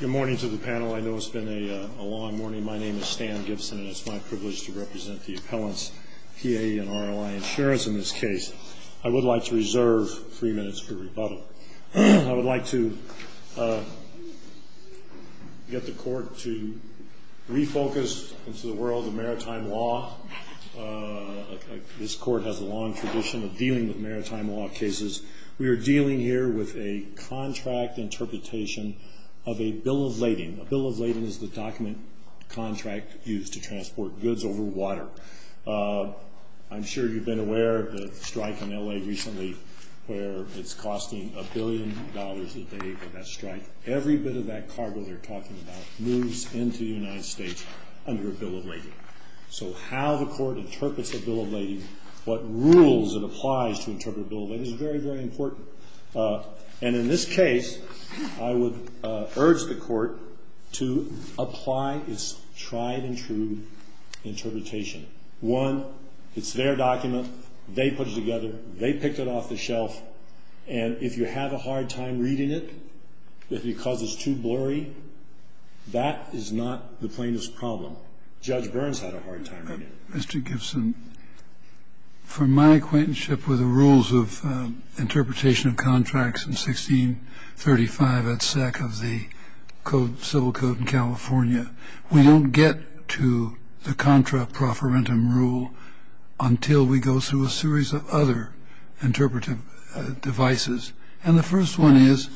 Good morning to the panel. I know it's been a long morning. My name is Stan Gibson and it's my privilege to represent the appellants PA and ROI insurance in this case. I would like to reserve three minutes for rebuttal. I would like to get the court to refocus into the world of maritime law. This court has a long tradition of dealing with maritime law cases. We are dealing here with a contract interpretation of a bill of lading. A bill of lading is the document contract used to transport goods over water. I'm sure you've been aware of the strike in LA recently where it's costing a billion dollars a day for that strike. Every bit of that cargo they're talking about moves into the United States under a bill of lading. So how the court interprets a bill of lading, what rules it applies to interpret a bill of lading is very, very important. In this case, I would urge the court to apply its tried and true interpretation. One, it's their document. They put it together. They picked it off the shelf. And if you have a hard time reading it, because it's too blurry, that is not the plainest problem. Judge Burns had a hard time reading it. Mr. Gibson, from my acquaintance with the rules of interpretation of contracts in 1635 at SAC of the Civil Code in California, we don't get to the contra proferentum rule until we go through a series of other interpretive devices. And the first one is,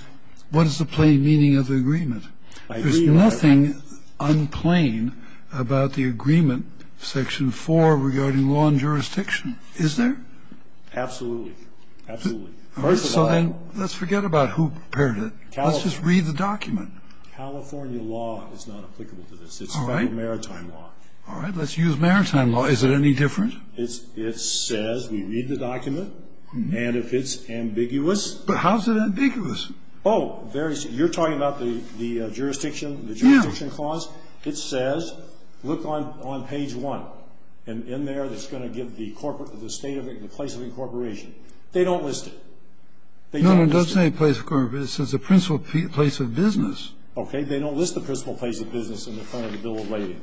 what is the plain meaning of the agreement? There's nothing unplain about the agreement, section four, regarding law and jurisdiction, is there? Absolutely. Absolutely. First of all... So then let's forget about who prepared it. Let's just read the document. California law is not applicable to this. All right. It's a maritime law. All right. Let's use maritime law. Is it any different? It says we read the document. And if it's ambiguous... But how is it ambiguous? Oh, you're talking about the jurisdiction clause? Yeah. It says, look on page one. And in there, it's going to give the state of it, the place of incorporation. They don't list it. No, it doesn't say place of incorporation. It says the principal place of business. Okay. They don't list the principal place of business in front of the bill of lading,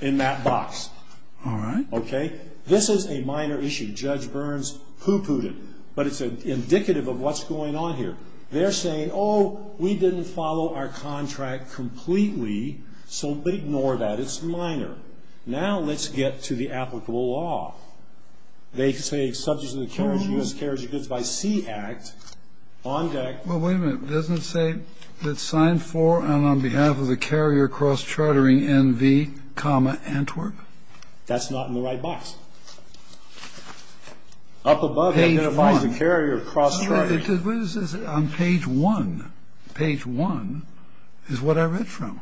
in that box. All right. Okay. This is a minor issue. Judge Burns pooh-poohed it. But it's indicative of what's going on here. They're saying, oh, we didn't follow our contract completely, so ignore that. It's minor. Now let's get to the applicable law. They say subject to the U.S. Carrier Goods by Sea Act, on deck... Well, wait a minute. It doesn't say that signed for and on behalf of the carrier cross-chartering N.V., Antwerp? That's not in the right box. Page 1. Up above, it identifies the carrier cross-charter. What is this on page 1? Page 1 is what I read from.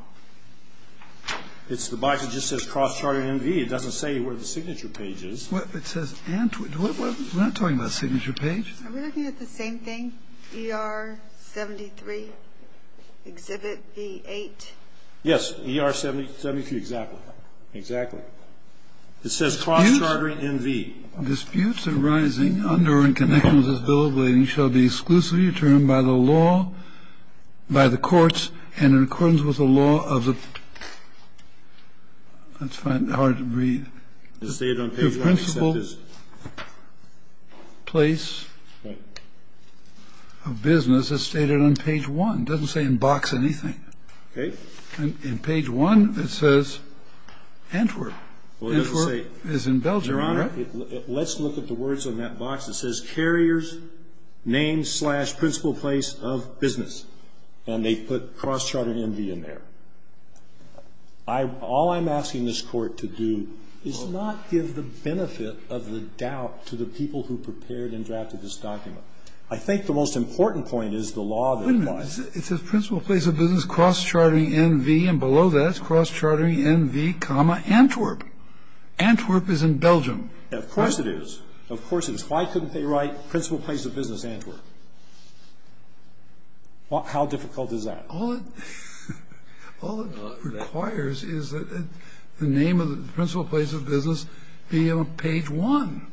It's the box that just says cross-charter N.V. It doesn't say where the signature page is. It says Antwerp. We're not talking about signature page. Are we looking at the same thing, E.R. 73, Exhibit V. 8? Yes. E.R. 73. Exactly. Exactly. It says cross-chartering N.V. Disputes arising under or in connection with this bill of lading shall be exclusively determined by the law, by the courts, and in accordance with the law of the... That's hard to read. It's stated on page 1. The principal place of business is stated on page 1. It doesn't say in box anything. Okay. In page 1, it says Antwerp. Antwerp is in Belgium. Your Honor, let's look at the words on that box. It says carrier's name slash principal place of business. And they put cross-charter N.V. in there. All I'm asking this Court to do is not give the benefit of the doubt to the people who prepared and drafted this document. I think the most important point is the law that applies. It says principal place of business cross-chartering N.V. And below that, it's cross-chartering N.V., Antwerp. Antwerp is in Belgium. Of course it is. Of course it is. Why couldn't they write principal place of business Antwerp? How difficult is that? All it requires is that the name of the principal place of business be on page 1.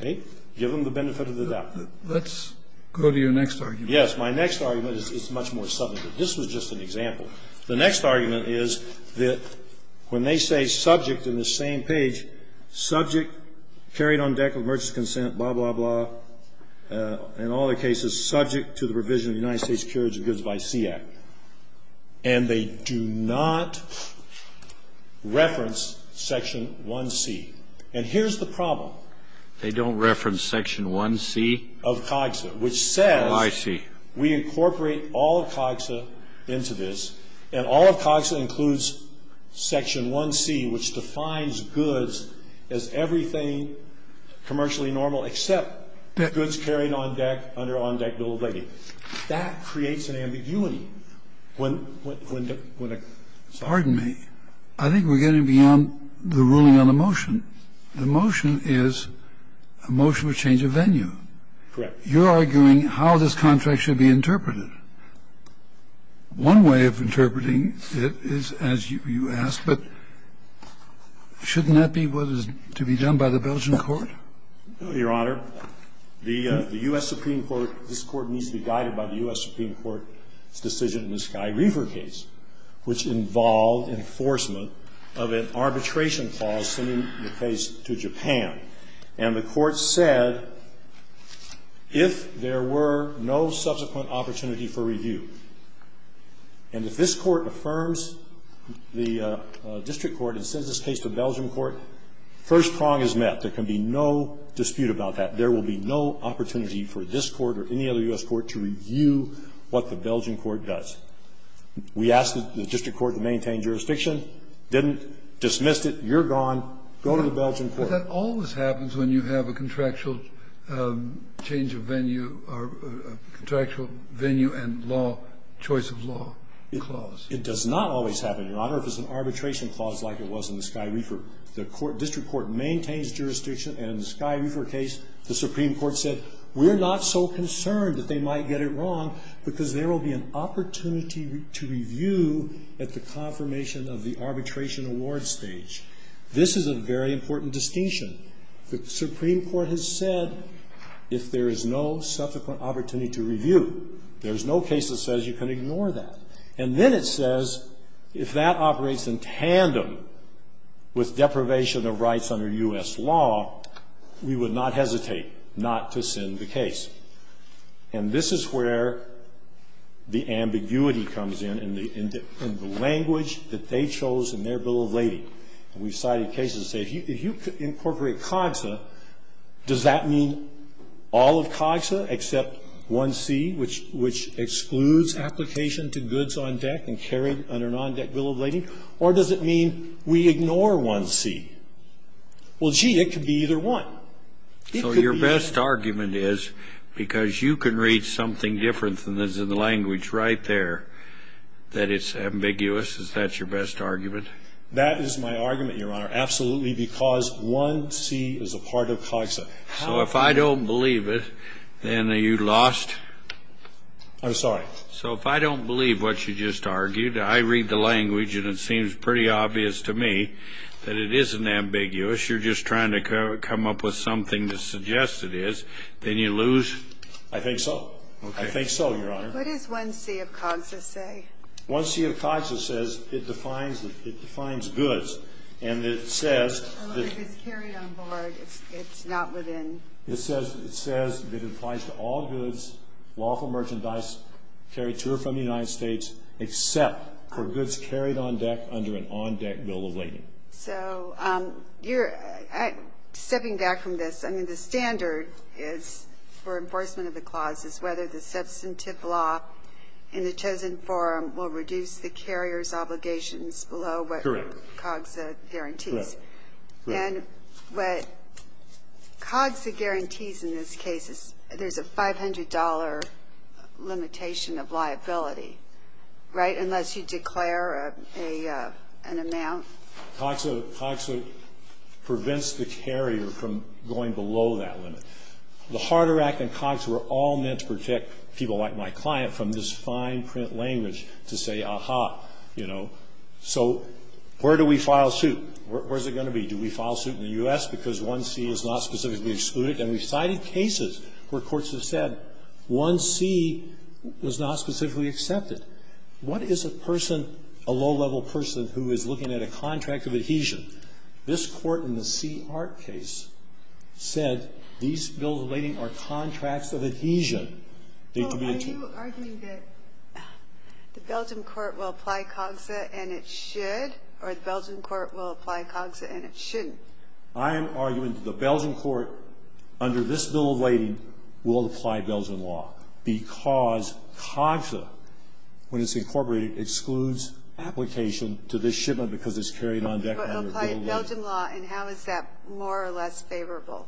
Okay. Give them the benefit of the doubt. Let's go to your next argument. Yes, my next argument is much more subjective. This was just an example. The next argument is that when they say subject in the same page, subject, carried on deck with emergency consent, blah, blah, blah, in all the cases, subject to the provision of the United States Couriers of Goods by Sea Act, and they do not reference section 1C. And here's the problem. They don't reference section 1C? Of COGSA, which says I see. We incorporate all of COGSA into this, and all of COGSA includes section 1C, which defines goods as everything commercially normal except goods carried on deck under on-deck bill of lading. That creates an ambiguity. When the sorry. Pardon me. I think we're getting beyond the ruling on the motion. The motion is a motion to change of venue. Correct. You're arguing how this contract should be interpreted. One way of interpreting it is as you ask, but shouldn't that be what is to be done by the Belgian court? No, Your Honor. The U.S. Supreme Court, this Court needs to be guided by the U.S. Supreme Court's decision in the Sky River case, which involved enforcement of an arbitration clause sending the case to Japan. And the Court said if there were no subsequent opportunity for review, and if this Court affirms the district court and sends this case to the Belgian court, first prong is met. There can be no dispute about that. There will be no opportunity for this Court or any other U.S. court to review what the Belgian court does. We asked the district court to maintain jurisdiction. Didn't. Dismissed it. You're gone. Go to the Belgian court. But that always happens when you have a contractual change of venue or a contractual venue and law, choice of law clause. It does not always happen, Your Honor, if it's an arbitration clause like it was in the Sky River. The district court maintains jurisdiction, and in the Sky River case, the Supreme Court said we're not so concerned that they might get it wrong because there will be an opportunity to review at the confirmation of the arbitration award stage. This is a very important distinction. The Supreme Court has said if there is no subsequent opportunity to review, there is no case that says you can ignore that. And then it says if that operates in tandem with deprivation of rights under U.S. law, we would not hesitate not to send the case. And this is where the ambiguity comes in and the language that they chose in their bill of lading. We've cited cases that say if you incorporate COGSA, does that mean all of COGSA except 1C, which excludes application to goods on deck and carried under a non-deck bill of lading? Or does it mean we ignore 1C? Well, gee, it could be either one. It could be either one. So your best argument is because you can read something different than is in the That is my argument, Your Honor, absolutely, because 1C is a part of COGSA. So if I don't believe it, then are you lost? I'm sorry. So if I don't believe what you just argued, I read the language and it seems pretty obvious to me that it isn't ambiguous, you're just trying to come up with something to suggest it is, then you lose? I think so. I think so, Your Honor. What does 1C of COGSA say? 1C of COGSA says it defines goods and it says that It's carried on board. It's not within It says it applies to all goods, lawful merchandise carried to or from the United States except for goods carried on deck under an on-deck bill of lading. So you're stepping back from this. I mean, the standard is for enforcement of the clause is whether the substantive law in the chosen forum will reduce the carrier's obligations below what Correct. COGSA guarantees. Correct. And what COGSA guarantees in this case is there's a $500 limitation of liability, right, unless you declare an amount. COGSA prevents the carrier from going below that limit. The Harder Act and COGSA were all meant to protect people like my client from this fine print language to say, aha, you know. So where do we file suit? Where is it going to be? Do we file suit in the U.S. because 1C is not specifically excluded? And we've cited cases where courts have said 1C was not specifically accepted. What is a person, a low-level person, who is looking at a contract of adhesion? This Court in the C. Hart case said these bills of lading are contracts of adhesion. They communicate. Are you arguing that the Belgian court will apply COGSA and it should, or the Belgian court will apply COGSA and it shouldn't? I am arguing that the Belgian court under this bill of lading will apply Belgian law because COGSA, when it's incorporated, excludes application to this shipment because it's carried on deck under bill of lading. But it will apply Belgian law, and how is that more or less favorable?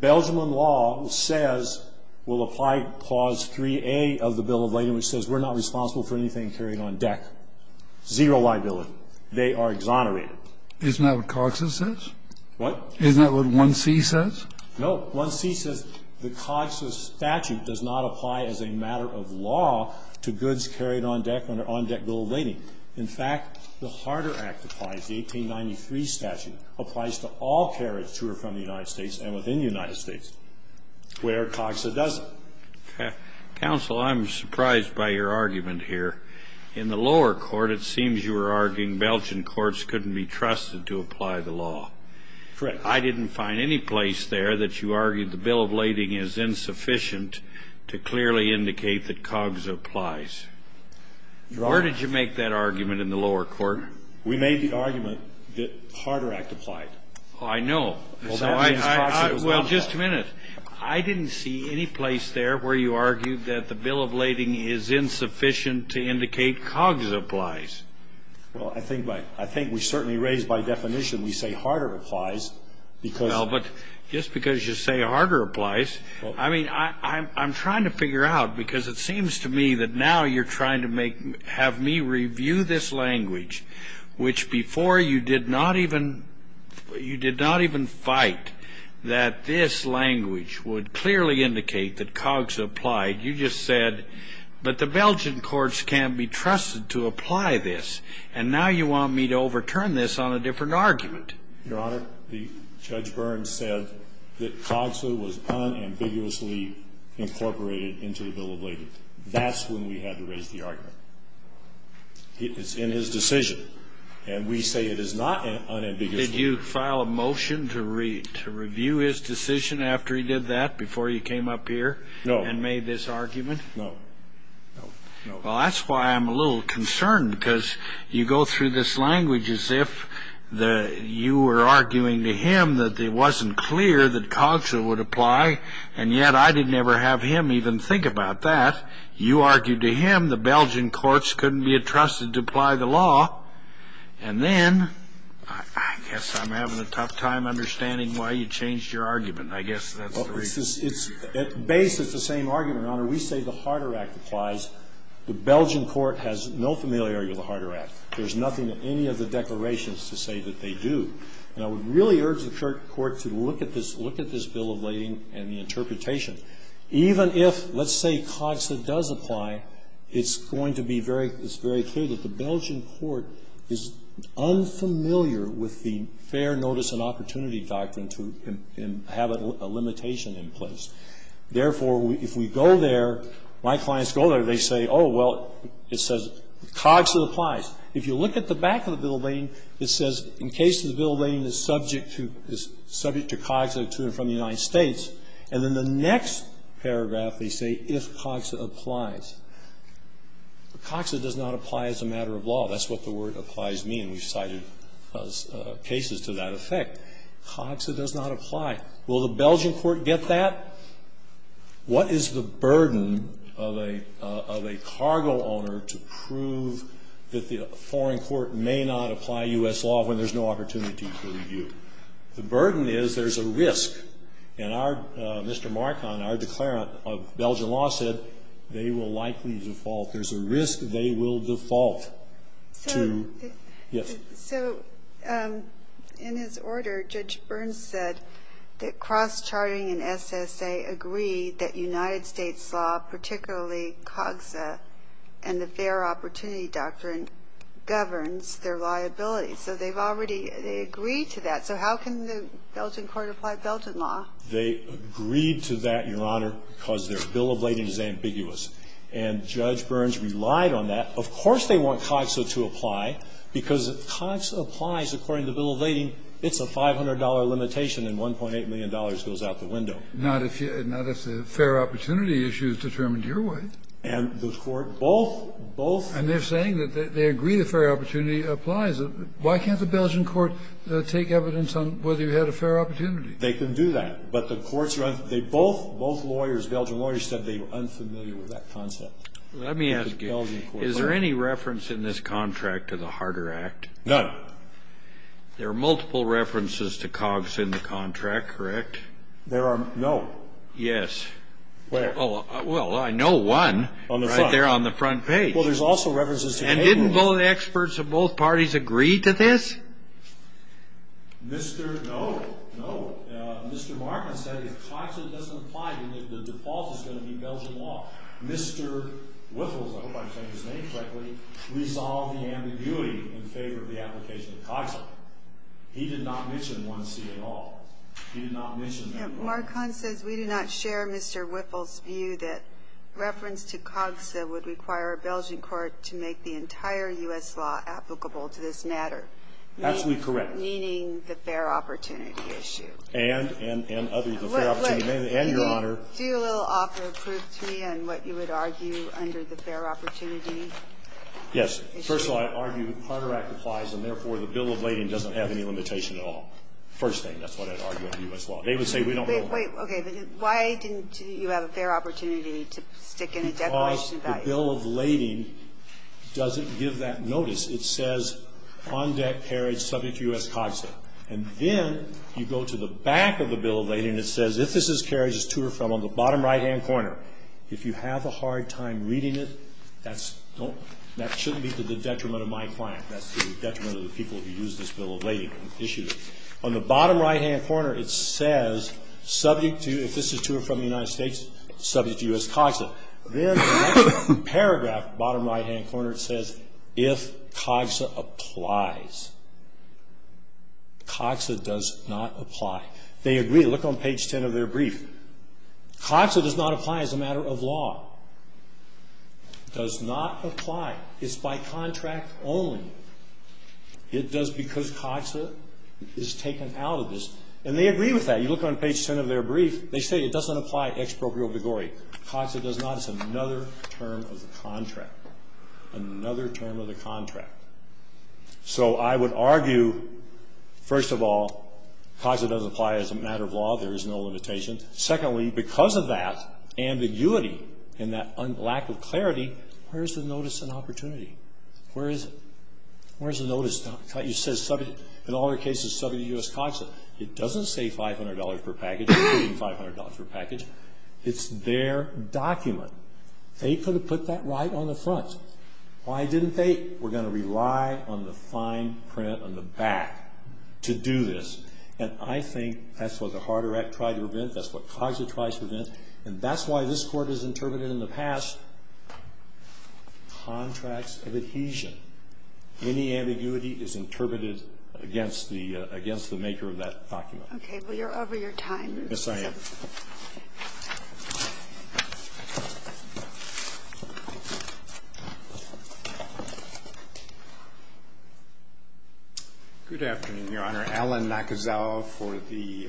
Belgian law says, will apply clause 3A of the bill of lading, which says we're not responsible for anything carried on deck. Zero liability. They are exonerated. Isn't that what COGSA says? What? Isn't that what 1C says? No. 1C says the COGSA statute does not apply as a matter of law to goods carried on deck under on-deck bill of lading. In fact, the harder act applies. The 1893 statute applies to all carriage to or from the United States and within the United States where COGSA doesn't. Counsel, I'm surprised by your argument here. In the lower court, it seems you were arguing Belgian courts couldn't be trusted to apply the law. Correct. I didn't find any place there that you argued the bill of lading is insufficient to clearly indicate that COGSA applies. Where did you make that argument in the lower court? We made the argument that harder act applied. Oh, I know. Well, that means COGSA does not apply. Well, just a minute. I didn't see any place there where you argued that the bill of lading is insufficient to indicate COGSA applies. Well, I think we certainly raised by definition we say harder applies because Well, but just because you say harder applies, I mean, I'm trying to figure out, because it seems to me that now you're trying to have me review this language, which before you did not even fight that this language would clearly indicate that COGSA applied. You just said, but the Belgian courts can't be trusted to apply this, and now you want me to overturn this on a different argument. Your Honor, Judge Burns said that COGSA was unambiguously incorporated into the bill of lading. That's when we had to raise the argument. It's in his decision, and we say it is not unambiguously. Did you file a motion to review his decision after he did that, before you came up here and made this argument? No. Well, that's why I'm a little concerned, because you go through this language as if you were arguing to him that it wasn't clear that COGSA would apply, and yet I didn't ever have him even think about that. You argued to him the Belgian courts couldn't be trusted to apply the law, and then I guess I'm having a tough time understanding why you changed your argument. I guess that's the reason. It's the same argument, Your Honor. We say the Harder Act applies. The Belgian court has no familiarity with the Harder Act. There's nothing in any of the declarations to say that they do. And I would really urge the court to look at this bill of lading and the interpretation, even if, let's say, COGSA does apply, it's going to be very clear that the Belgian court is unfamiliar with the fair notice and opportunity doctrine to have a limitation in place. Therefore, if we go there, my clients go there. They say, oh, well, it says COGSA applies. If you look at the back of the bill of lading, it says in case the bill of lading is subject to COGSA from the United States. And in the next paragraph, they say if COGSA applies. COGSA does not apply as a matter of law. That's what the word applies means. We've cited cases to that effect. COGSA does not apply. Will the Belgian court get that? What is the burden of a cargo owner to prove that the foreign court may not apply U.S. law when there's no opportunity for review? The burden is there's a risk. And our Mr. Marcon, our declarant of Belgian law, said they will likely default. There's a risk they will default to. Yes. So in his order, Judge Burns said that cross-charting and SSA agree that United States law, particularly COGSA and the fair opportunity doctrine, governs their liability. So they've already agreed to that. So how can the Belgian court apply Belgian law? They agreed to that, Your Honor, because their bill of lading is ambiguous. And Judge Burns relied on that. Of course they want COGSA to apply, because COGSA applies according to bill of lading. It's a $500 limitation, and $1.8 million goes out the window. Not if the fair opportunity issue is determined your way. And the court both, both. And they're saying that they agree the fair opportunity applies. Why can't the Belgian court take evidence on whether you had a fair opportunity? They can do that. But the courts are unfamiliar. They both, both lawyers, Belgian lawyers said they were unfamiliar with that concept. Let me ask you. Is there any reference in this contract to the Harder Act? None. There are multiple references to COGSA in the contract, correct? There are no. Yes. Well, I know one right there on the front page. And didn't both experts of both parties agree to this? No. No. Mr. Marcon said if COGSA doesn't apply, the default is going to be Belgian law. Mr. Wiffel, I hope I'm saying his name correctly, resolved the ambiguity in favor of the application of COGSA. He did not mention 1C at all. He did not mention that at all. Mr. Marcon says we do not share Mr. Wiffel's view that reference to COGSA would require a Belgian court to make the entire U.S. law applicable to this matter. Absolutely correct. Meaning the fair opportunity issue. And, and, and other, the fair opportunity, and Your Honor. Do a little offer of proof to me on what you would argue under the fair opportunity issue. Yes. First of all, I argue the Harder Act applies, and therefore the bill of lading doesn't have any limitation at all. First thing, that's what I'd argue under U.S. law. They would say we don't know that. Wait. Okay. But why didn't you have a fair opportunity to stick in a definition value? Because the bill of lading doesn't give that notice. It says on-debt carriage subject to U.S. COGSA. And then you go to the back of the bill of lading, and it says if this is carriage, it's to or from. On the bottom right-hand corner, if you have a hard time reading it, that shouldn't be to the detriment of my client. That's to the detriment of the people who used this bill of lading and issued it. On the bottom right-hand corner, it says subject to, if this is to or from the United States, subject to U.S. COGSA. Then the last paragraph, bottom right-hand corner, it says if COGSA applies. COGSA does not apply. They agree. Look on page 10 of their brief. COGSA does not apply as a matter of law. Does not apply. It's by contract only. It does because COGSA is taken out of this. And they agree with that. You look on page 10 of their brief. They say it doesn't apply exproprio vigore. COGSA does not. It's another term of the contract, another term of the contract. So I would argue, first of all, COGSA does apply as a matter of law. There is no limitation. Secondly, because of that ambiguity and that lack of clarity, where is the notice and opportunity? Where is it? Where is the notice? It says subject, in all their cases, subject to U.S. COGSA. It doesn't say $500 per package. It's $500 per package. It's their document. They could have put that right on the front. Why didn't they? We're going to rely on the fine print on the back to do this. And I think that's what the Harder Act tried to prevent. That's what COGSA tries to prevent. And that's why this Court has interpreted in the past contracts of adhesion. Any ambiguity is interpreted against the maker of that document. Okay. Well, you're over your time. Yes, I am. Good afternoon, Your Honor. I'm going to ask Mr. Allen Nakazawa for the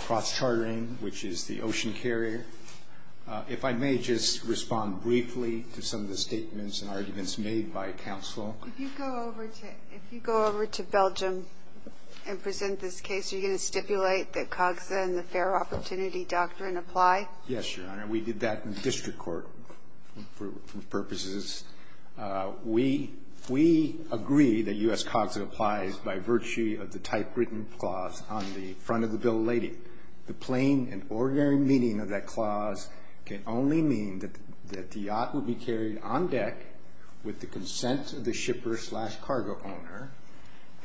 cross-chartering, which is the ocean carrier. If I may just respond briefly to some of the statements and arguments made by counsel. If you go over to Belgium and present this case, are you going to stipulate that COGSA and the Fair Opportunity Doctrine apply? Yes, Your Honor. We did that in the district court for purposes. We agree that U.S. COGSA applies by virtue of the typewritten clause on the front of the bill of lading. The plain and ordinary meaning of that clause can only mean that the yacht would be carried on deck with the consent of the shipper slash cargo owner,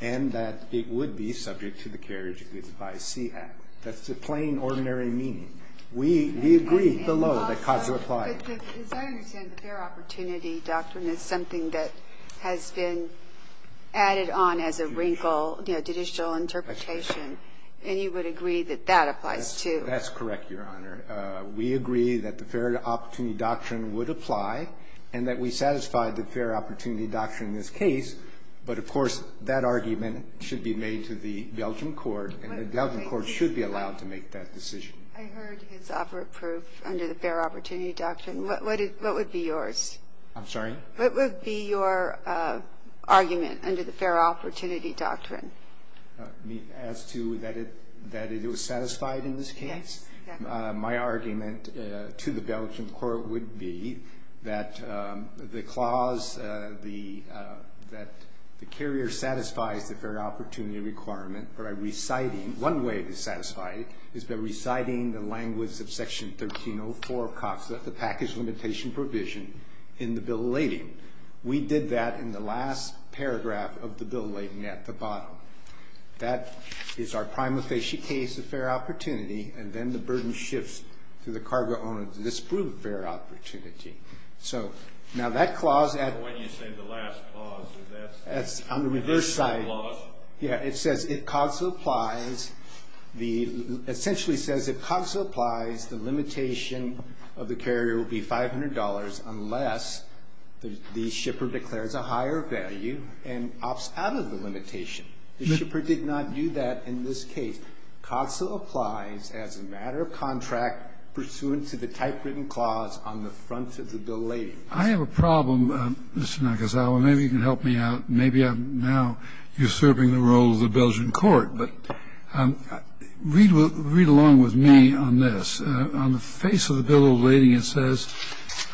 and that it would be subject to the carriage by SEAHAT. That's the plain, ordinary meaning. We agree below that COGSA applies. But as I understand, the Fair Opportunity Doctrine is something that has been added on as a wrinkle, you know, judicial interpretation, and you would agree that that applies, too. That's correct, Your Honor. We agree that the Fair Opportunity Doctrine would apply and that we satisfy the Fair Opportunity Doctrine in this case. But, of course, that argument should be made to the Belgium court, and the Belgium court should be allowed to make that decision. I heard his offer of proof under the Fair Opportunity Doctrine. What would be yours? I'm sorry? What would be your argument under the Fair Opportunity Doctrine? As to that it was satisfied in this case? Yes, exactly. My argument to the Belgium court would be that the clause, that the carrier satisfies the Fair Opportunity requirement by reciting, one way to satisfy it, is by reciting the language of Section 1304 of COGSA, the Package Limitation Provision in the Bill of Lading. We did that in the last paragraph of the Bill of Lading at the bottom. That is our prima facie case of fair opportunity, and then the burden shifts to the cargo owner to disprove fair opportunity. Now that clause at the reverse side, it says, if COGSA applies the limitation of the carrier will be $500 unless the shipper declares a higher value and opts out of the limitation. The shipper did not do that in this case. COGSA applies as a matter of contract, pursuant to the typewritten clause on the front of the Bill of Lading. I have a problem, Mr. Nakazawa. Maybe you can help me out. Maybe I'm now usurping the role of the Belgian court. But read along with me on this. On the face of the Bill of Lading it says,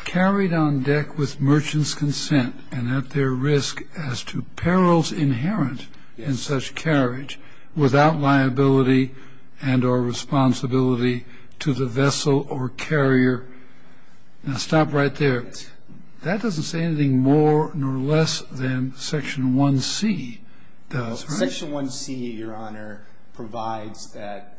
carried on deck with merchant's consent and at their risk as to perils inherent in such carriage without liability and or responsibility to the vessel or carrier. Now stop right there. That doesn't say anything more nor less than Section 1C does, right? Section 1C, Your Honor, provides that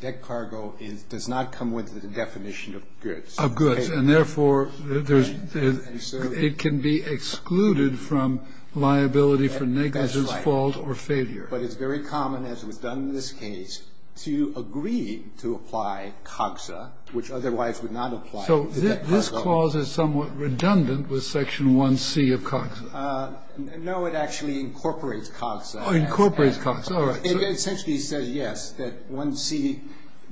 deck cargo does not come with the definition of goods. Of goods. And therefore, it can be excluded from liability for negligence, fault or failure. That's right. But it's very common, as was done in this case, to agree to apply COGSA, which otherwise would not apply. So this clause is somewhat redundant with Section 1C of COGSA. No, it actually incorporates COGSA. Incorporates COGSA. All right. It essentially says, yes, that 1C,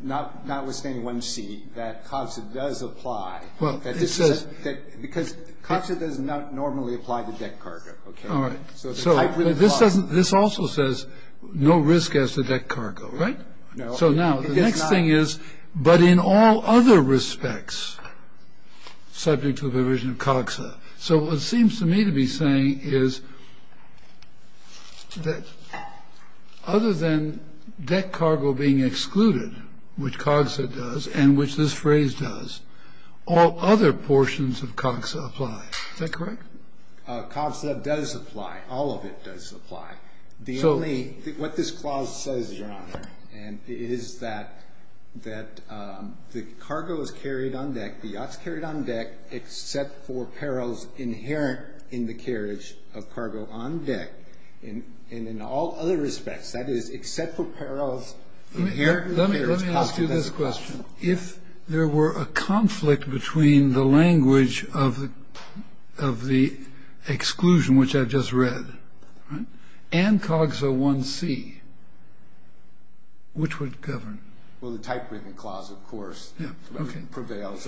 notwithstanding 1C, that COGSA does apply. Because COGSA does not normally apply to deck cargo. All right. This also says no risk as to deck cargo, right? No. So now the next thing is, but in all other respects subject to the provision of COGSA. So what seems to me to be saying is that other than deck cargo being excluded, which COGSA does and which this phrase does, all other portions of COGSA apply. Is that correct? COGSA does apply. All of it does apply. The only What this clause says, Your Honor, is that the cargo is carried on deck, the yacht's carried on deck, except for perils inherent in the carriage of cargo on deck. And in all other respects, that is, except for perils inherent in the carriage. Let me ask you this question. If there were a conflict between the language of the exclusion, which I've just read, and COGSA 1C, which would govern? Well, the typewritten clause, of course, prevails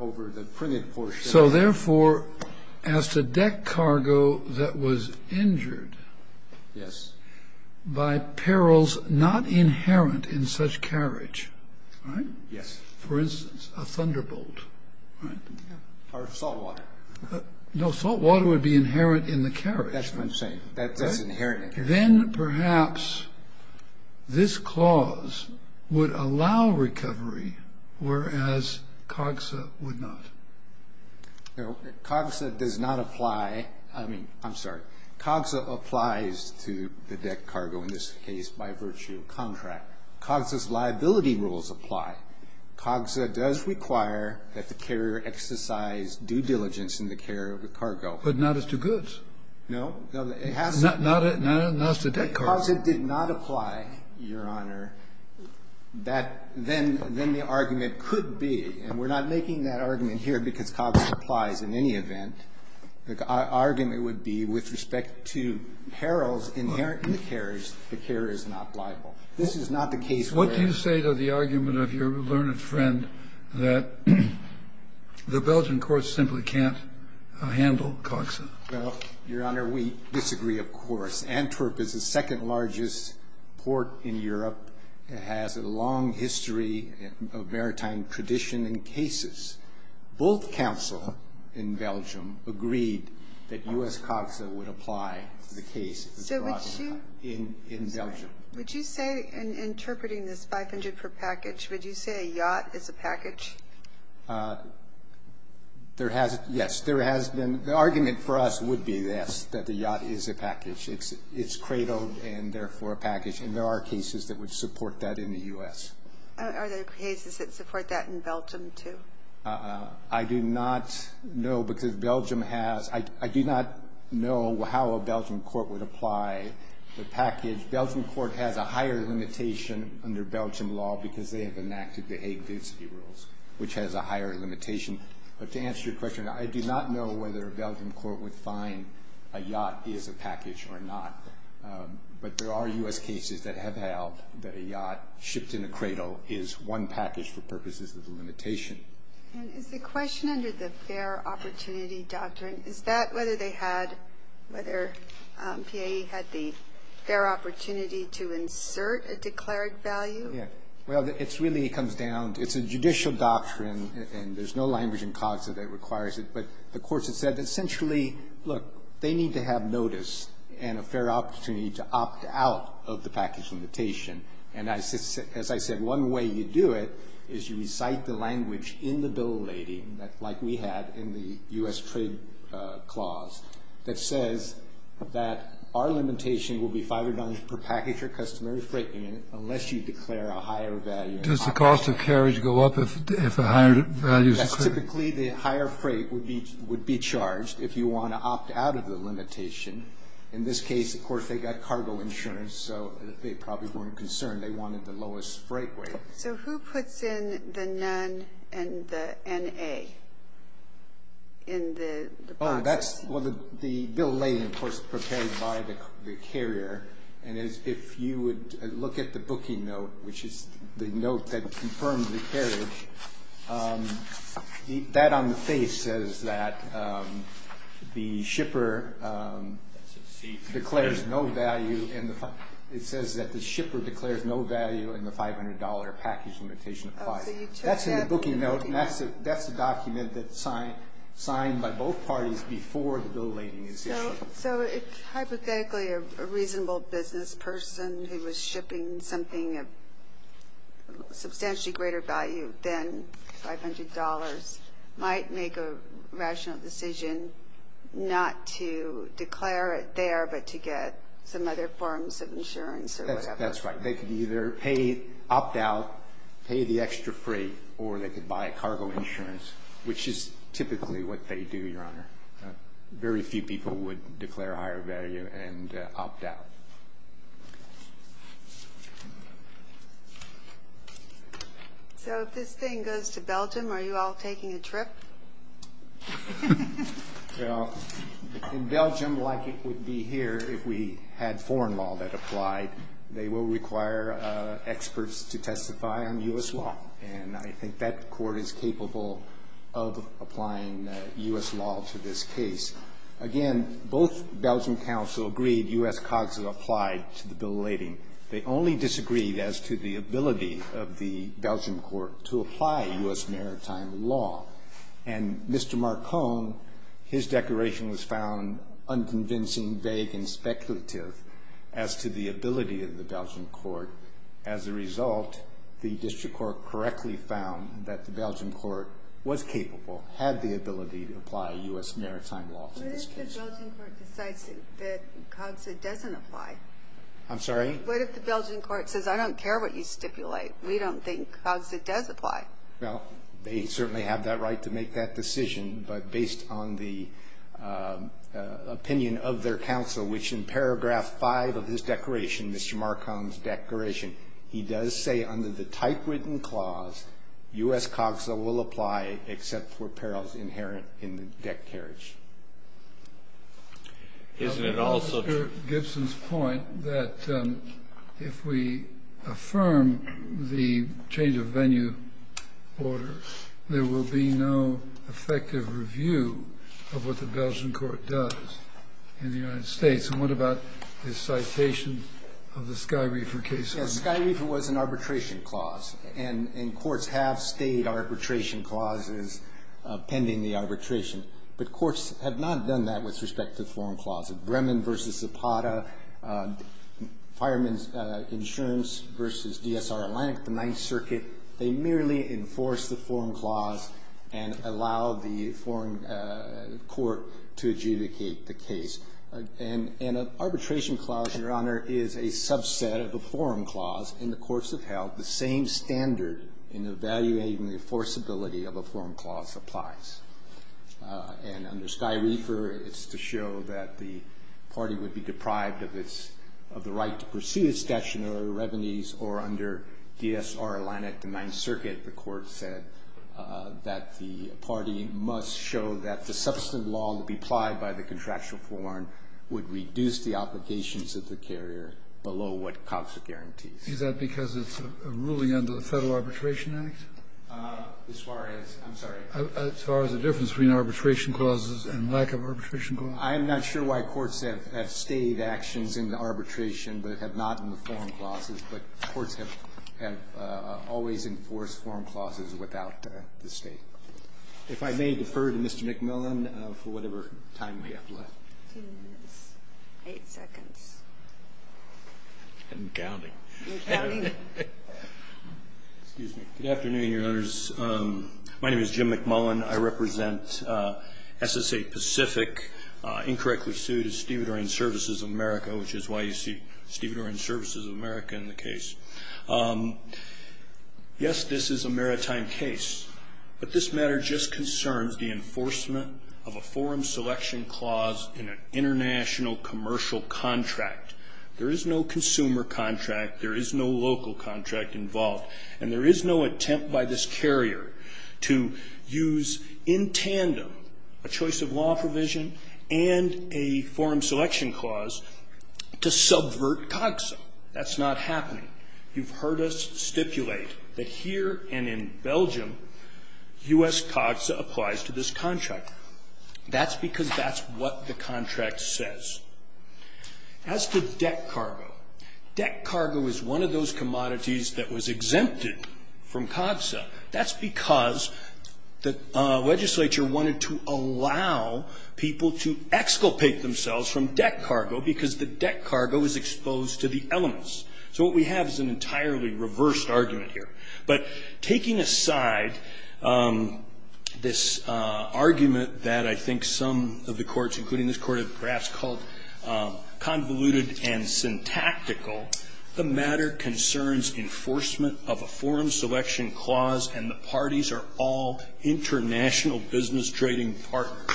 over the printed portion. So, therefore, as to deck cargo that was injured. Yes. By perils not inherent in such carriage. All right. Yes. For instance, a thunderbolt. Or salt water. No, salt water would be inherent in the carriage. That's what I'm saying. That's inherent. Then, perhaps, this clause would allow recovery, whereas COGSA would not. COGSA does not apply. I mean, I'm sorry. COGSA applies to the deck cargo in this case by virtue of contract. COGSA's liability rules apply. COGSA does require that the carrier exercise due diligence in the care of the cargo. But not as to goods. No. Not as to deck cargo. COGSA did not apply, Your Honor. That then the argument could be, and we're not making that argument here because COGSA applies in any event. The argument would be with respect to perils inherent in the carriage, the carrier is not liable. This is not the case where. What do you say to the argument of your learned friend that the Belgian courts simply can't handle COGSA? Well, Your Honor, we disagree, of course. Antwerp is the second largest port in Europe. It has a long history of maritime tradition and cases. Both counsel in Belgium agreed that U.S. COGSA would apply the case in Belgium. Would you say in interpreting this 500 per package, would you say a yacht is a package? Yes. There has been. The argument for us would be this, that the yacht is a package. It's cradled and therefore a package. And there are cases that would support that in the U.S. Are there cases that support that in Belgium, too? I do not know because Belgium has. I do not know how a Belgian court would apply the package. The Belgian court has a higher limitation under Belgian law because they have enacted the Hague Density Rules, which has a higher limitation. But to answer your question, I do not know whether a Belgian court would find a yacht is a package or not. But there are U.S. cases that have held that a yacht shipped in a cradle is one package for purposes of the limitation. And is the question under the fair opportunity doctrine, is that whether they had, whether PAE had the fair opportunity to insert a declared value? Yes. Well, it really comes down. It's a judicial doctrine, and there's no language in Cogsa that requires it. But the courts have said essentially, look, they need to have notice and a fair opportunity to opt out of the package limitation. And as I said, one way you do it is you recite the language in the Bill of Lading, like we had in the U.S. Trade Clause, that says that our limitation will be $500 per package or customary freight unit unless you declare a higher value. Does the cost of carriage go up if a higher value is declared? Yes. Typically, the higher freight would be charged if you want to opt out of the limitation. In this case, of course, they got cargo insurance, so they probably weren't concerned. They wanted the lowest freight rate. So who puts in the none and the N-A in the box? Oh, that's the Bill of Lading, of course, prepared by the carrier. And if you would look at the booking note, which is the note that confirms the carriage, that on the face says that the shipper declares no value. It says that the shipper declares no value and the $500 package limitation applies. That's in the booking note, and that's the document that's signed by both parties before the Bill of Lading is issued. So hypothetically, a reasonable business person who was shipping something of substantially greater value than $500 might make a rational decision not to declare it there but to get some other forms of insurance or whatever. That's right. They could either opt out, pay the extra freight, or they could buy cargo insurance, which is typically what they do, Your Honor. Very few people would declare a higher value and opt out. So if this thing goes to Belgium, are you all taking a trip? Well, in Belgium, like it would be here if we had foreign law that applied, they will require experts to testify on U.S. law, and I think that court is capable of applying U.S. law to this case. Again, both Belgium counsel agreed U.S. Cogs is a fine country, applied to the Bill of Lading. They only disagreed as to the ability of the Belgian court to apply U.S. maritime law, and Mr. Marcon, his declaration was found unconvincing, vague, and speculative as to the ability of the Belgian court. As a result, the district court correctly found that the Belgian court was capable, had the ability to apply U.S. maritime law to this case. What if the Belgian court decides that Cogs doesn't apply? I'm sorry? What if the Belgian court says, I don't care what you stipulate. We don't think Cogs does apply. Well, they certainly have that right to make that decision, but based on the opinion of their counsel, which in paragraph 5 of his declaration, Mr. Marcon's declaration, he does say under the typewritten clause, U.S. Cogs will apply except for perils inherent in the deck carriage. Isn't it also true? Mr. Gibson's point that if we affirm the change of venue order, there will be no effective review of what the Belgian court does in the United States, and what about the citation of the Sky Reefer case? Yes, Sky Reefer was an arbitration clause, and courts have stayed arbitration clauses pending the arbitration. But courts have not done that with respect to the forum clause. Bremen v. Zapata, Fireman's Insurance v. DSR Atlantic, the Ninth Circuit, they merely enforce the forum clause and allow the forum court to adjudicate the case. And an arbitration clause, Your Honor, is a subset of a forum clause, and the courts have held the same standard in evaluating the enforceability of a forum clause applies. And under Sky Reefer, it's to show that the party would be deprived of its – of the right to pursue its stationary revenues, or under DSR Atlantic, the Ninth Circuit, the court said that the party must show that the substantive law will be applied by the contractual forum would reduce the obligations of the carrier below what COPSA guarantees. Is that because it's a ruling under the Federal Arbitration Act? As far as – I'm sorry. As far as the difference between arbitration clauses and lack of arbitration clauses. I'm not sure why courts have stayed actions in the arbitration, but have not in the forum clauses. But courts have always enforced forum clauses without the State. If I may defer to Mr. McMillan for whatever time we have left. Two minutes, eight seconds. I'm counting. You're counting? Excuse me. Good afternoon, Your Honors. My name is Jim McMillan. I represent SSA Pacific. Incorrectly sued is Stevedore and Services of America, which is why you see Stevedore and Services of America in the case. Yes, this is a maritime case. But this matter just concerns the enforcement of a forum selection clause in an international commercial contract. There is no consumer contract. There is no local contract involved. And there is no attempt by this carrier to use in tandem a choice of law provision and a forum selection clause to subvert COPSA. That's not happening. You've heard us stipulate that here and in Belgium, U.S. COPSA applies to this contract. That's because that's what the contract says. As to deck cargo, deck cargo is one of those commodities that was exempted from COPSA. That's because the legislature wanted to allow people to exculpate themselves from deck cargo because the deck cargo is exposed to the elements. So what we have is an entirely reversed argument here. But taking aside this argument that I think some of the courts, including this court, have perhaps called convoluted and syntactical, the matter concerns enforcement of a forum selection clause, and the parties are all international business trading partners.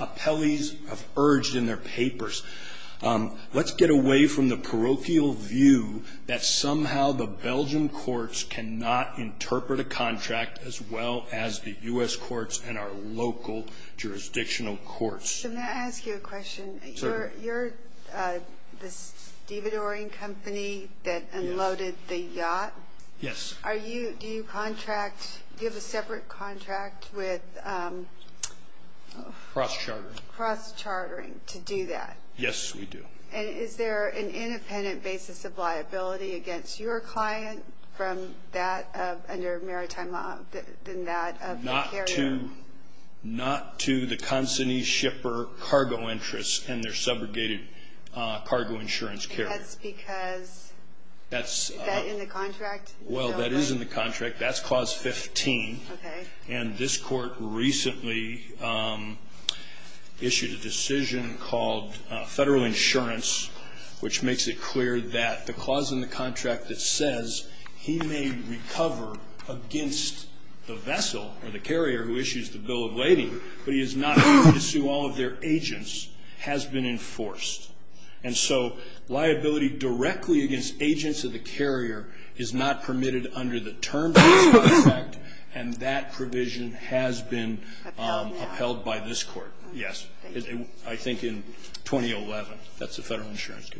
Appellees have urged in their papers, let's get away from the parochial view that somehow the Belgian courts cannot interpret a contract as well as the U.S. courts and our local jurisdictional courts. Can I ask you a question? Sure. You're the stevedoring company that unloaded the yacht? Yes. Are you, do you contract, do you have a separate contract with? Cross-chartering. Cross-chartering to do that? Yes, we do. And is there an independent basis of liability against your client from that under maritime law than that of the carrier? Not to the consignee shipper cargo interests and their subrogated cargo insurance carrier. That's because that's in the contract? Well, that is in the contract. That's clause 15. Okay. And this court recently issued a decision called federal insurance, which makes it clear that the clause in the contract that says he may recover against the vessel or the carrier who issues the bill of lading, but he is not permitted to sue all of their agents, has been enforced. And so liability directly against agents of the carrier is not permitted under the terms of this contract, and that provision has been upheld by this court. Yes. I think in 2011. That's the federal insurance.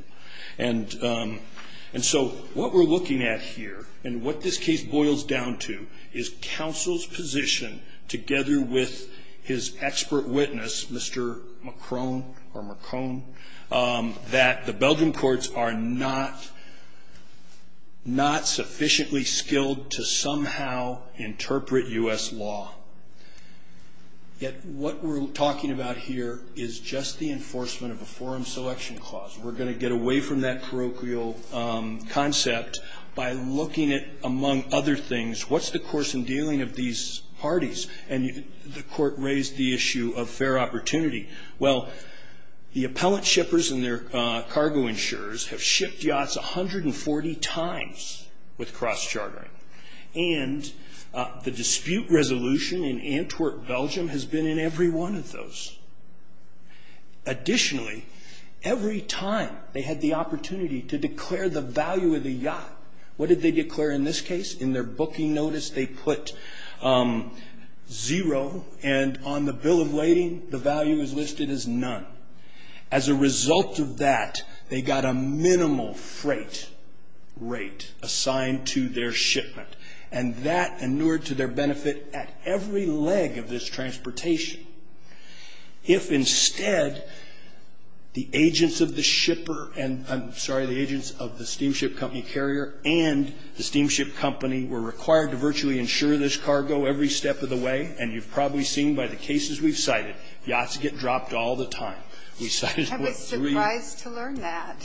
And so what we're looking at here and what this case boils down to is counsel's position together with his expert witness, Mr. McCrone or McCone, that the Belgian courts are not sufficiently skilled to somehow interpret U.S. law. Yet what we're talking about here is just the enforcement of a forum selection clause. We're going to get away from that parochial concept by looking at, among other things, what's the course in dealing of these parties? And the court raised the issue of fair opportunity. Well, the appellant shippers and their cargo insurers have shipped yachts 140 times with cross-chartering, and the dispute resolution in Antwerp, Belgium, has been in every one of those. Additionally, every time they had the opportunity to declare the value of the yacht, what did they declare in this case? In their booking notice, they put zero, and on the bill of lading, the value is listed as none. As a result of that, they got a minimal freight rate assigned to their shipment, and that inured to their benefit at every leg of this transportation. If, instead, the agents of the shipper and the agents of the steamship company carrier and the steamship company were required to virtually insure this cargo every step of the way, and you've probably seen by the cases we've cited, yachts get dropped all the time. I was surprised to learn that.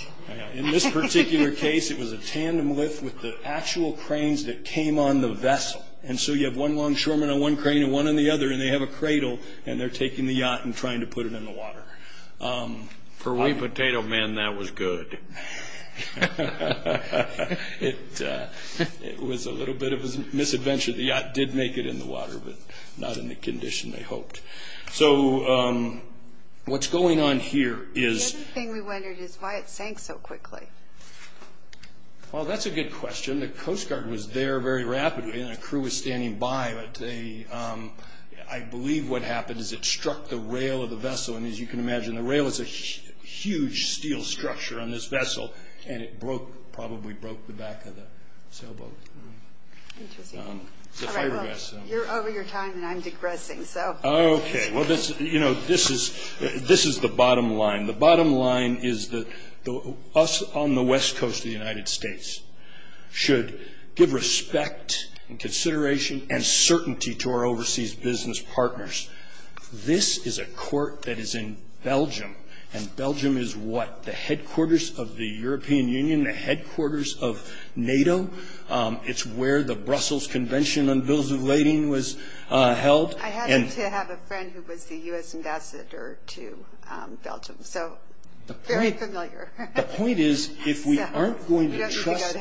In this particular case, it was a tandem lift with the actual cranes that came on the vessel. And so you have one longshoreman on one crane and one on the other, and they have a cradle, and they're taking the yacht and trying to put it in the water. For wee potato men, that was good. It was a little bit of a misadventure. The yacht did make it in the water, but not in the condition they hoped. So what's going on here is – The other thing we wondered is why it sank so quickly. Well, that's a good question. The Coast Guard was there very rapidly, and a crew was standing by, And as you can imagine, the rail is a huge steel structure on this vessel, and it probably broke the back of the sailboat. Interesting. You're over your time, and I'm digressing, so. Okay. Well, this is the bottom line. The bottom line is that us on the West Coast of the United States should give respect and consideration and certainty to our overseas business partners. This is a court that is in Belgium, and Belgium is what? The headquarters of the European Union, the headquarters of NATO. It's where the Brussels Convention on Bills of Lading was held. I happen to have a friend who was the U.S. ambassador to Belgium, so very familiar. The point is, if we aren't going to trust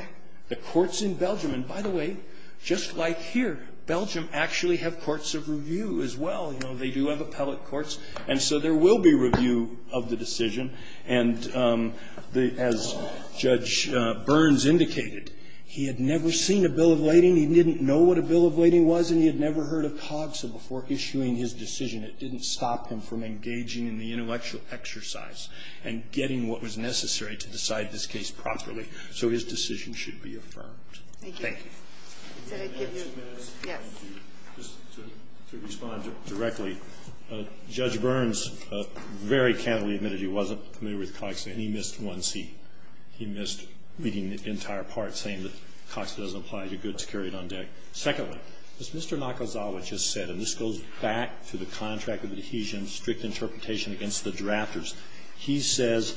the courts in Belgium – And by the way, just like here, Belgium actually have courts of review as well. You know, they do have appellate courts, and so there will be review of the decision. And as Judge Burns indicated, he had never seen a bill of lading. He didn't know what a bill of lading was, and he had never heard of COGSA before issuing his decision. It didn't stop him from engaging in the intellectual exercise and getting what was necessary to decide this case properly. So his decision should be affirmed. Thank you. Thank you. Yes. Just to respond directly, Judge Burns very candidly admitted he wasn't familiar with COGSA, and he missed one C. He missed reading the entire part saying that COGSA doesn't apply to goods carried on deck. Secondly, as Mr. Nakazawa just said, and this goes back to the contract of adhesion strict interpretation against the drafters, he says,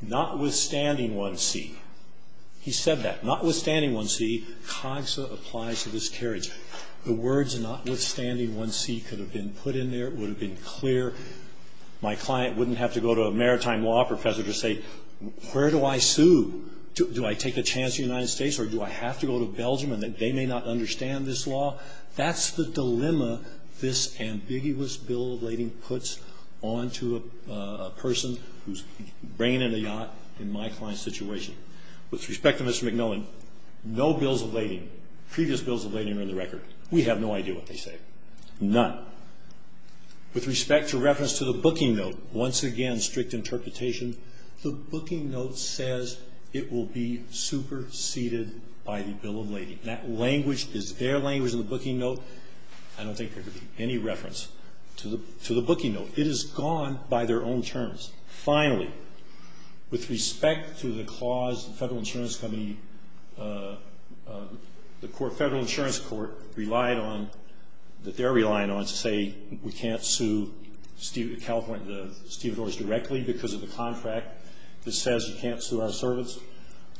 notwithstanding one C, he said that, notwithstanding one C, COGSA applies to this carriage. The words notwithstanding one C could have been put in there. It would have been clear. My client wouldn't have to go to a maritime law professor to say, where do I sue? Do I take a chance in the United States, or do I have to go to Belgium, and they may not understand this law? That's the dilemma this ambiguous bill of lading puts onto a person who's bringing in a yacht in my client's situation. With respect to Mr. McMillan, no bills of lading, previous bills of lading are in the record. We have no idea what they say. None. With respect to reference to the booking note, once again, strict interpretation, the booking note says it will be superseded by the bill of lading. That language is their language in the booking note. I don't think there could be any reference to the booking note. It is gone by their own terms. Finally, with respect to the clause the Federal Insurance Company, the court, Federal Insurance Court, relied on, that they're relying on, to say we can't sue California, the stevedores directly because of the contract that says you can't sue our servants.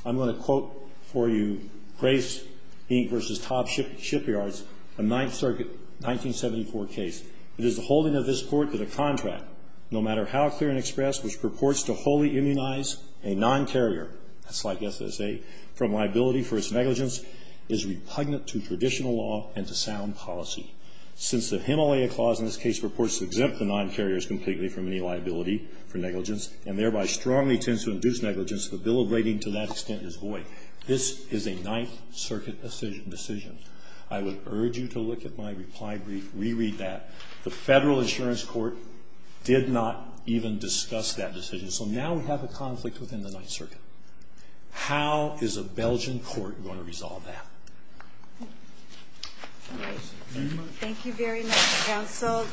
I'm going to quote for you Grace, Inc. v. Top Shipyards, a Ninth Circuit 1974 case. It is the holding of this court that a contract, no matter how clear and expressed, which purports to wholly immunize a non-carrier, that's like SSA, from liability for its negligence, is repugnant to traditional law and to sound policy. Since the Himalaya clause in this case purports to exempt the non-carriers completely from any liability for negligence and thereby strongly tends to induce negligence, the bill of lading to that extent is void. This is a Ninth Circuit decision. I would urge you to look at my reply brief, re-read that. The Federal Insurance Court did not even discuss that decision. So now we have a conflict within the Ninth Circuit. How is a Belgian court going to resolve that? Thank you very much, counsel.